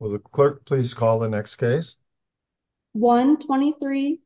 1-23-1137 WC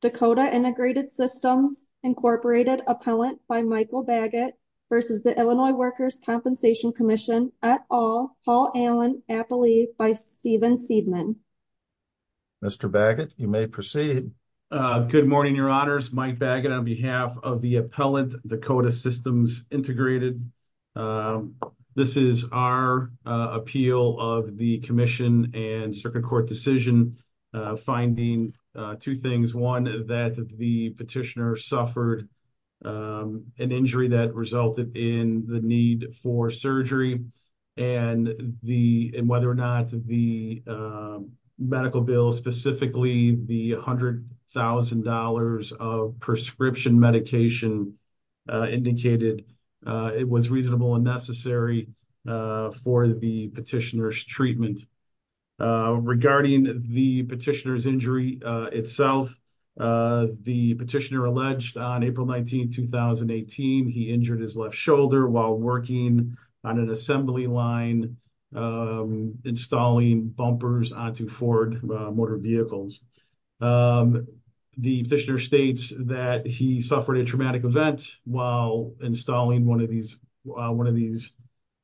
Dakota Integrated Systems, Inc. Appellant by Michael Baggett v. Illinois Workers' Compensation Comm'n et al., Paul Allen, Appalachia by Stephen Seidman. Mr. Baggett, you may proceed. Good morning, Your Honors. Mike Baggett on behalf of the Appellant Dakota Systems Integrated. This is our appeal of the Commission and Circuit Court decision finding two things. One, that the petitioner suffered an injury that resulted in the need for surgery and whether or not the medical bill, specifically the $100,000 of prescription medication, indicated it was reasonable and necessary for the petitioner's treatment. Regarding the petitioner's injury itself, the petitioner alleged on April 19, 2018, he injured his left shoulder while working on an assembly line installing bumpers onto Ford motor vehicles. The petitioner states that he suffered a traumatic event while installing one of these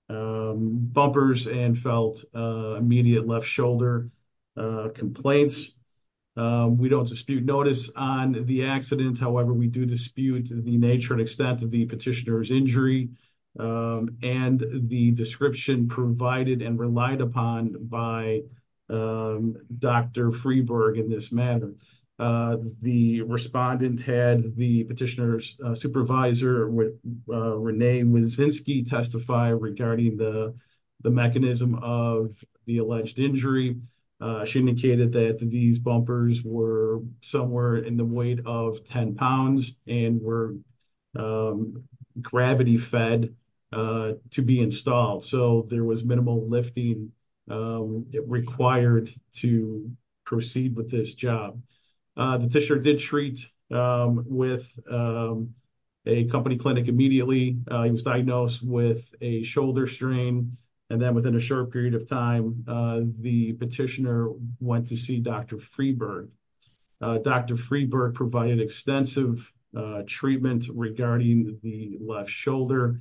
bumpers and felt immediate left shoulder complaints. We don't dispute notice on the accident. However, we do dispute the nature and extent of the petitioner's injury and the Friberg in this matter. The respondent had the petitioner's supervisor, Renee Wisinski, testify regarding the mechanism of the alleged injury. She indicated that these bumpers were somewhere in the weight of 10 pounds and were gravity-fed to be installed. So, there was minimal lifting required to proceed with this job. The petitioner did treat with a company clinic immediately. He was diagnosed with a shoulder strain and then within a short period of time, the petitioner went to see Dr. Friberg. Dr. Friberg provided extensive treatment regarding the left shoulder,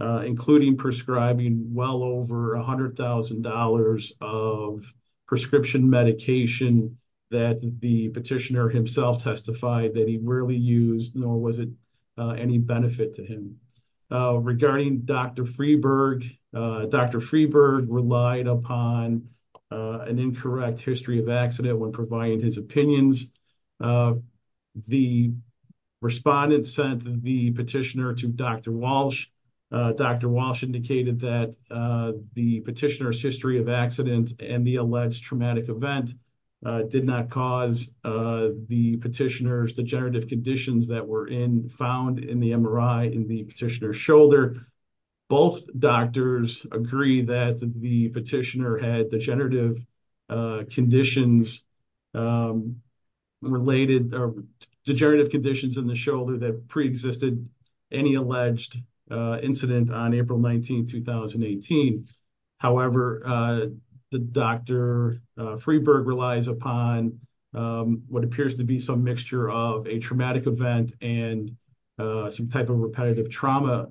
including prescribing well over $100,000 of prescription medication that the petitioner himself testified that he rarely used, nor was it any benefit to him. Regarding Dr. Friberg, Dr. Friberg relied upon an incorrect history of accident when providing his opinions. The respondent sent the petitioner to Dr. Walsh. Dr. Walsh indicated that the petitioner's history of accident and the alleged traumatic event did not cause the petitioner's degenerative conditions that were found in the MRI in the petitioner's shoulder. Both doctors agree that the petitioner had degenerative conditions in the shoulder that pre-existed any alleged incident on April 19, 2018. However, Dr. Friberg relies upon what appears to be some event and some type of repetitive trauma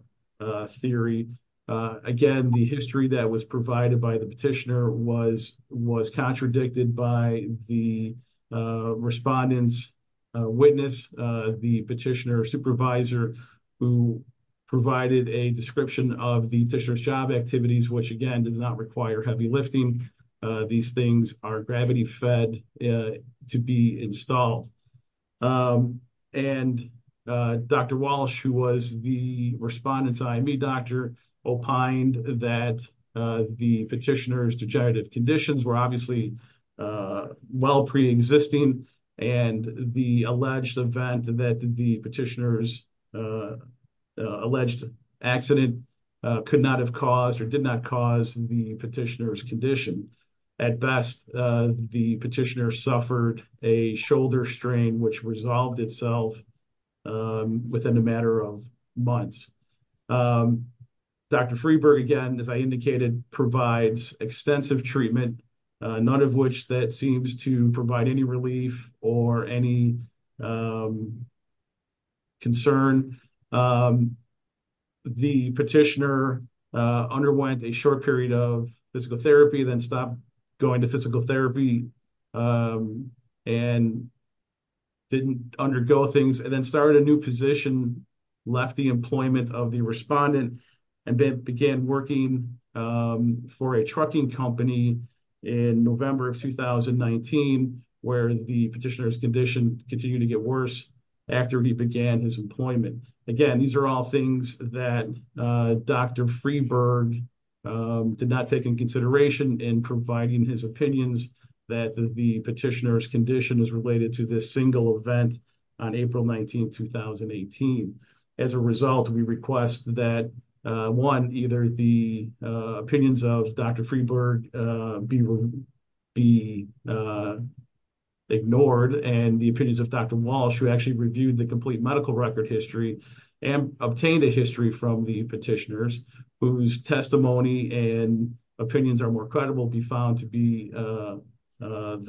theory. Again, the history that was provided by the petitioner was contradicted by the respondent's witness, the petitioner supervisor who provided a description of the petitioner's job activities, which again does not require heavy lifting. These things are gravity-fed to be installed. Dr. Walsh, who was the respondent's IME doctor, opined that the petitioner's degenerative conditions were obviously well pre-existing and the alleged event that the petitioner's alleged accident could not have caused or did not cause the petitioner's condition. At best, the petitioner suffered a shoulder strain which resolved itself within a matter of months. Dr. Friberg, again, as I indicated, provides extensive treatment, none of which that seems to provide any relief or any concern. The petitioner underwent a short period of physical therapy, then stopped going to physical therapy and didn't undergo things, and then started a new position, left the employment of the respondent, and then began working for a trucking company in November of 2019, where the petitioner's condition continued to get worse after he began his employment. Again, these are all things that Dr. Friberg did not take into consideration in providing his opinions that the petitioner's condition is related to this single event on April 19, 2018. As a result, we request that, one, either the opinions of Dr. Friberg be ignored and the opinions of Dr. Walsh, who actually reviewed the complete medical record history and obtained a history from the petitioners, whose testimony and opinions are more credible, be found to be the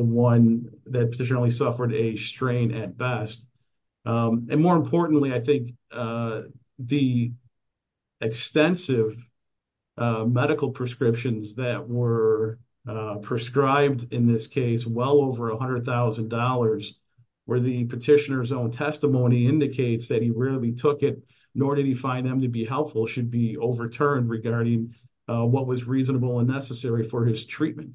one that petitioner only took. Two, the extensive medical prescriptions that were prescribed in this case, well over $100,000, where the petitioner's own testimony indicates that he rarely took it, nor did he find them to be helpful, should be overturned regarding what was reasonable and necessary for his treatment.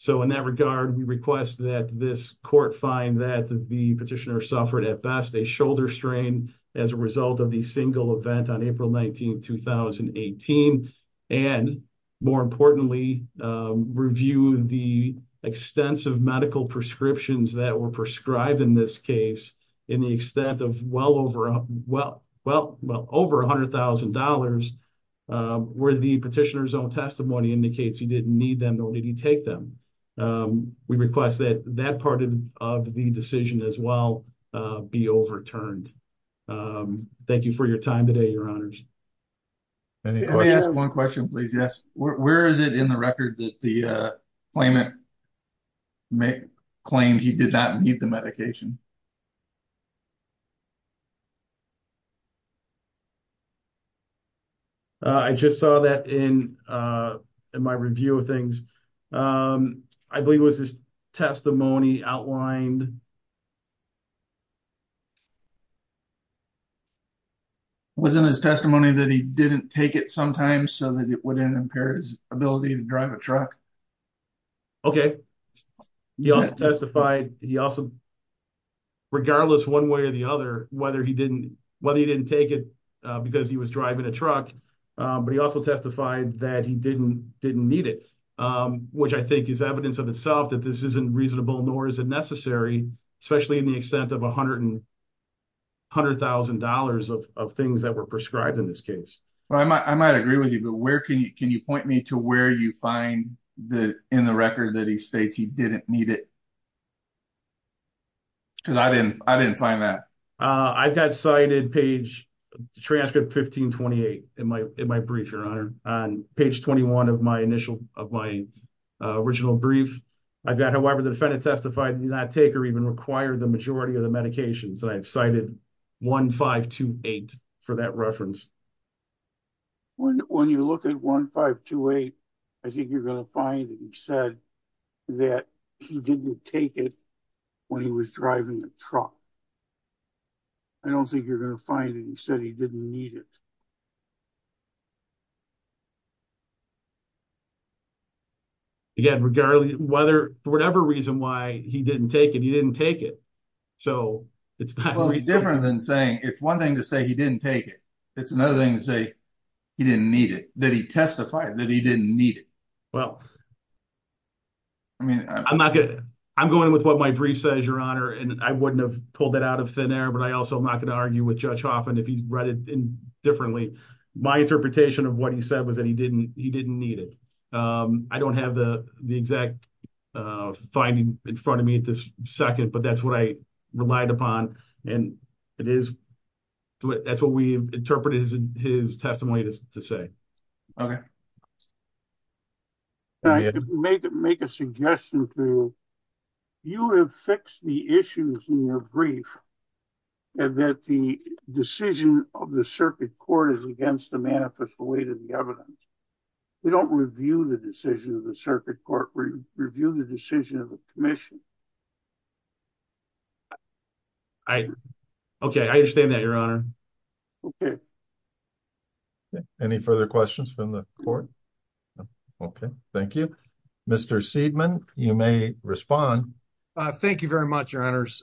So, in that regard, we request that this court find that the petitioner suffered, at best, a shoulder strain as a result of the single event on April 19, 2018, and, more importantly, review the extensive medical prescriptions that were prescribed in this case in the extent of over $100,000, where the petitioner's own testimony indicates he didn't need them, nor did he take them. We request that that part of the decision, as well, be overturned. Thank you for your time today, your honors. Can I ask one question, please? Yes. Where is it in the record that the claimant claimed he did not need the medication? I just saw that in my review of things. I believe it was his testimony outlined. It was in his testimony that he didn't take it sometimes so that it wouldn't impair his ability to drive a truck. Okay. He also testified, he also regardless one way or the other, whether he didn't take it because he was driving a truck, but he also testified that he didn't need it, which I think is evidence of itself that this isn't reasonable nor is it necessary, especially in the extent of $100,000 of things that were prescribed in this case. I might agree with you, but can you point me to where you find in the record that he states he didn't need it? Because I didn't find that. I've got cited page transcript 1528 in my brief, your honor, on page 21 of my original brief. I've got, however, the defendant testified did not take or even require the majority of the medications. I've cited 1528 for that reference. When you look at 1528, I think you're going to find that he said that he didn't take it when he was driving the truck. I don't think you're going to find that he said he didn't need it. Again, regardless, for whatever reason, why he didn't take it, he didn't take it. So it's different than saying it's one thing to say he didn't take it. It's another thing to say he didn't need it, that he testified that he didn't need it. I'm going with what my brief says, your honor, and I wouldn't have pulled that out of thin air, but I also am not going to argue with Judge Hoffman if he's read it differently. My interpretation of what he said was that he didn't need it. I don't have the exact finding in front of me at this second, but that's what I relied upon, and that's what we interpreted his testimony to say. I can make a suggestion to you. You have fixed the issues in your brief and that the decision of the circuit court is against the manifest weight of the evidence. We don't review the decision of the circuit court. We review the decision of the commission. I understand that, your honor. Any further questions from the court? Okay, thank you. Mr. Seidman, you may respond. Thank you very much, your honors.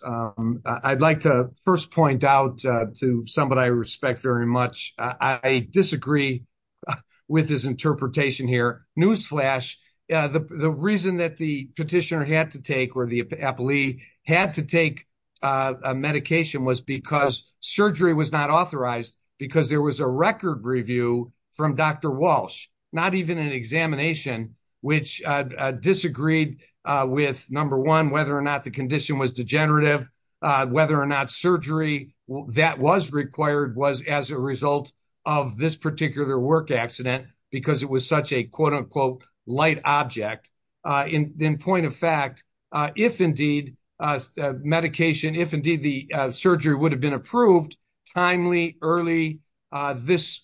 I'd like to first point out to somebody I respect very much, I disagree with his interpretation here. Newsflash, the reason that the petitioner had to take or the appellee had to take a medication was because surgery was not authorized because there was a record review from Dr. Walsh, not even an examination, which disagreed with, number one, whether or not the condition was degenerative, whether or not surgery that was required was as a result of this particular work accident because it was such a quote-unquote light object. In point of fact, if indeed the surgery would have been approved timely, early, this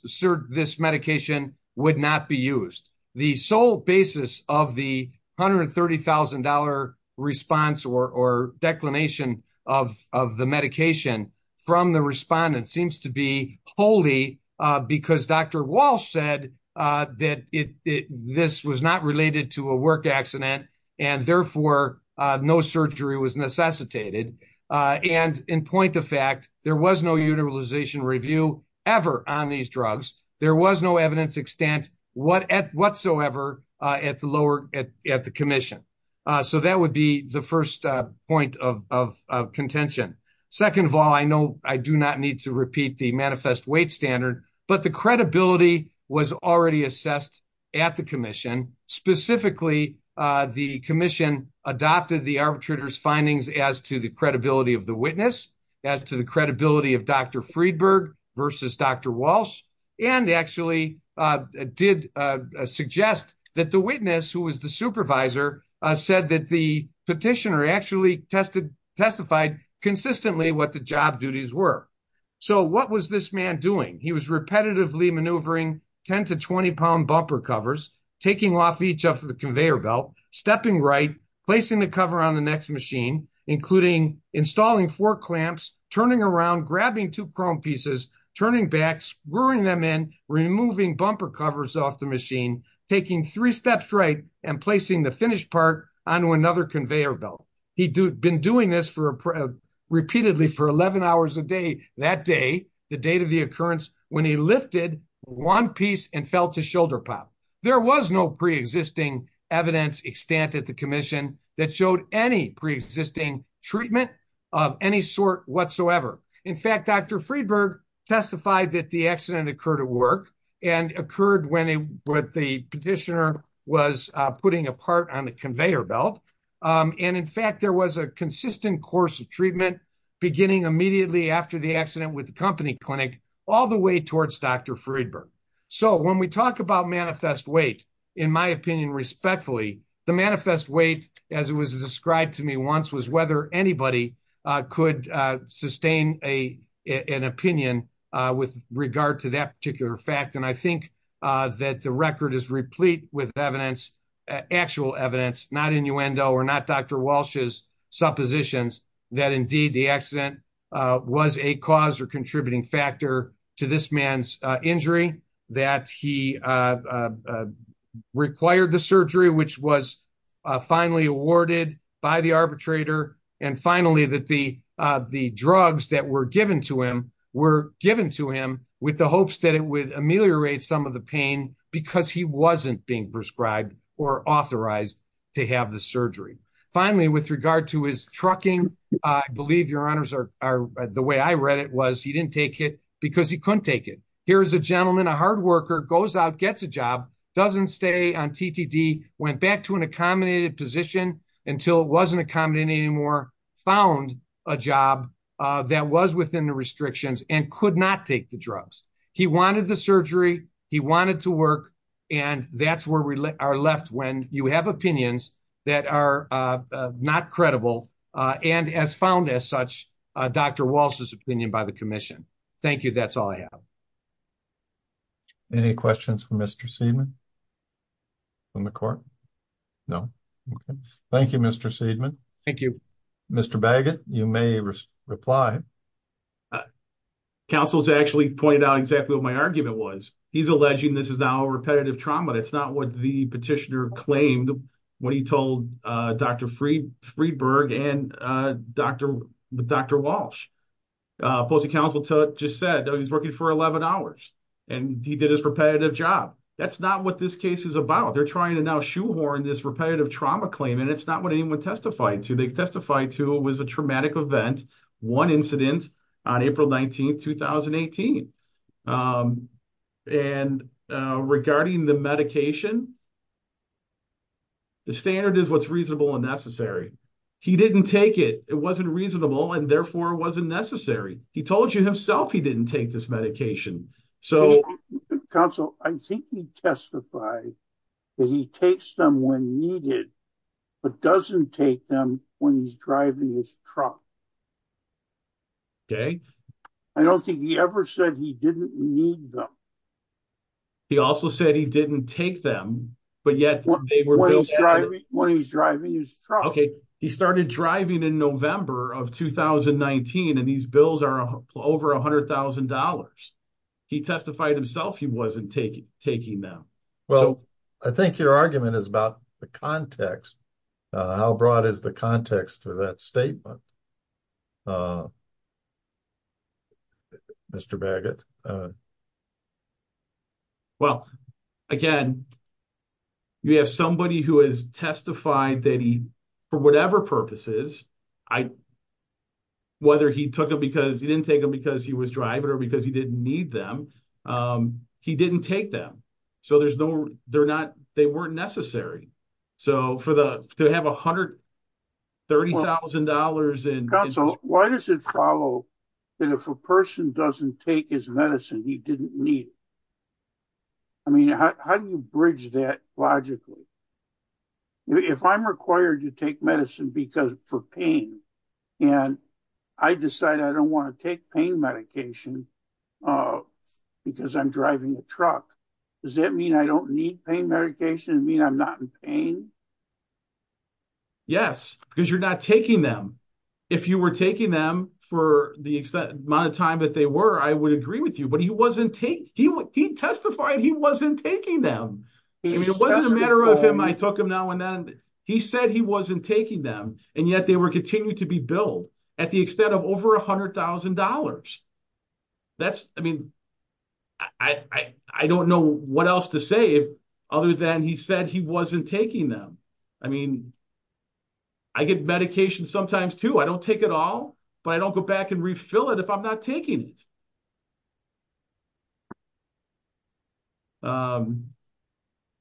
medication would not be used. The sole basis of the $130,000 response or declination of the medication from the respondent seems to be wholly because Dr. Walsh said that this was not related to a work accident and therefore no surgery was necessitated. And in point of fact, there was no utilization review ever on these drugs. There was no evidence extent whatsoever at the commission. So that would be the first point of contention. Second of all, I know I do not need to repeat the manifest weight standard, but the credibility was already assessed at the commission. Specifically, the commission adopted the arbitrator's findings as to the credibility of the witness, as to the credibility of Dr. Friedberg versus Dr. Walsh, and actually did suggest that the witness, who was the supervisor, said that the petitioner actually testified consistently what the job duties were. So what was this man doing? He was repetitively 10 to 20-pound bumper covers, taking off each of the conveyor belt, stepping right, placing the cover on the next machine, including installing four clamps, turning around, grabbing two chrome pieces, turning back, screwing them in, removing bumper covers off the machine, taking three steps right, and placing the finished part onto another conveyor belt. He'd been doing this repeatedly for 11 hours a day that day, the date of the occurrence, when he lifted one piece and felt his shoulder pop. There was no pre-existing evidence extant at the commission that showed any pre-existing treatment of any sort whatsoever. In fact, Dr. Friedberg testified that the accident occurred at work and occurred when the petitioner was putting a part on the conveyor belt. And in fact, there was a consistent course of treatment beginning immediately after the accident with the company clinic, all the way towards Dr. Friedberg. So when we talk about manifest weight, in my opinion, respectfully, the manifest weight, as it was described to me once, was whether anybody could sustain an opinion with regard to that particular fact. And I think that the record is replete with evidence, actual evidence, not innuendo or not Dr. Walsh's suppositions that indeed the accident was a cause or contributing factor to this man's injury, that he required the surgery, which was finally awarded by the arbitrator. And finally, that the drugs that were given to him were given to him with the hopes that it would ameliorate some of the pain because he wasn't being prescribed or authorized to have the surgery. Finally, with regard to his trucking, I believe your honors are the way I read it was he didn't take it because he couldn't take it. Here's a gentleman, a hard worker, goes out, gets a job, doesn't stay on TTD, went back to an accommodated position until it wasn't accommodating anymore, found a job that was within the restrictions and could not take the drugs. He wanted the surgery, he wanted to work, and that's where we are left when you have opinions that are not credible and as found as such Dr. Walsh's opinion by the commission. Thank you. That's all I have. Any questions for Mr. Seidman from the court? No? Okay. Thank you, Mr. Seidman. Thank you. Mr. Baggett, you may reply. Counsel's actually pointed out exactly what my argument was. He's alleging this is now a repetitive trauma. That's not what the petitioner claimed when he told Dr. Friedberg and Dr. Walsh. Post-counsel just said he's working for 11 hours and he did his repetitive job. That's not what this case is about. They're trying to now shoehorn this repetitive trauma claim and it's not what anyone testified to. They testified to it was a traumatic event, one incident on April 19, 2018. Regarding the medication, the standard is what's reasonable and necessary. He didn't take it. It wasn't reasonable and therefore it wasn't necessary. He told you himself he didn't take this medication. Counsel, I think he testified that he takes them when needed but doesn't take them when he's driving his truck. Okay. I don't think he ever said he didn't need them. He also said he didn't take them but yet when he's driving his truck. Okay. He started driving in November of 2019 and these bills are over $100,000. He testified himself he wasn't taking them. Well, I think your argument is about the context. How broad is the context to that statement, Mr. Baggett? Well, again, you have somebody who has testified that he, whatever purposes, whether he took them because he didn't take them because he was driving or because he didn't need them, he didn't take them. They weren't necessary. So, to have $130,000 and Counsel, why does it follow that if a person doesn't take his medicine, he didn't need it? How do you bridge that logically? If I'm required to take medicine for pain and I decide I don't want to take pain medication because I'm driving a truck, does that mean I don't need pain medication and mean I'm not in pain? Yes, because you're not taking them. If you were taking them for the amount of time that they were, I would agree with you, but he testified he wasn't taking them. It wasn't a matter of him. I took him now and then. He said he wasn't taking them and yet they were continuing to be billed at the extent of over $100,000. I don't know what else to say other than he said he wasn't taking them. I get medication sometimes too. I don't take it all, but I don't go back and refill it if I'm not taking it.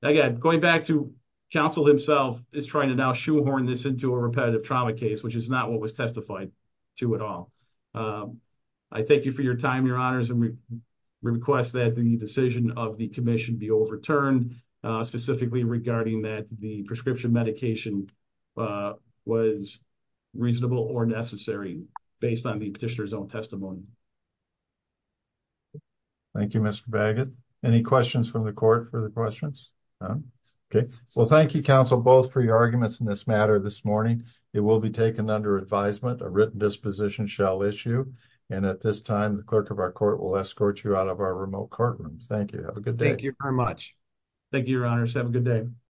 Again, going back to Counsel himself is trying to now shoehorn this into a repetitive trauma case, which is not what was testified to at all. I thank you for your time, Your Honors, and we request that the decision of the Commission be overturned, specifically regarding that the prescription medication was reasonable or necessary based on the Petitioner's own testimony. Thank you, Mr. Baggett. Any questions from the Court for the questions? Well, thank you, Counsel, both for your arguments in this matter this morning. It will be taken under advisement. A written disposition shall issue, and at this time the Clerk of our Court will escort you out of our remote courtroom. Thank you. Have a good day. Thank you very much. Thank you, Your Honors. Have a good day.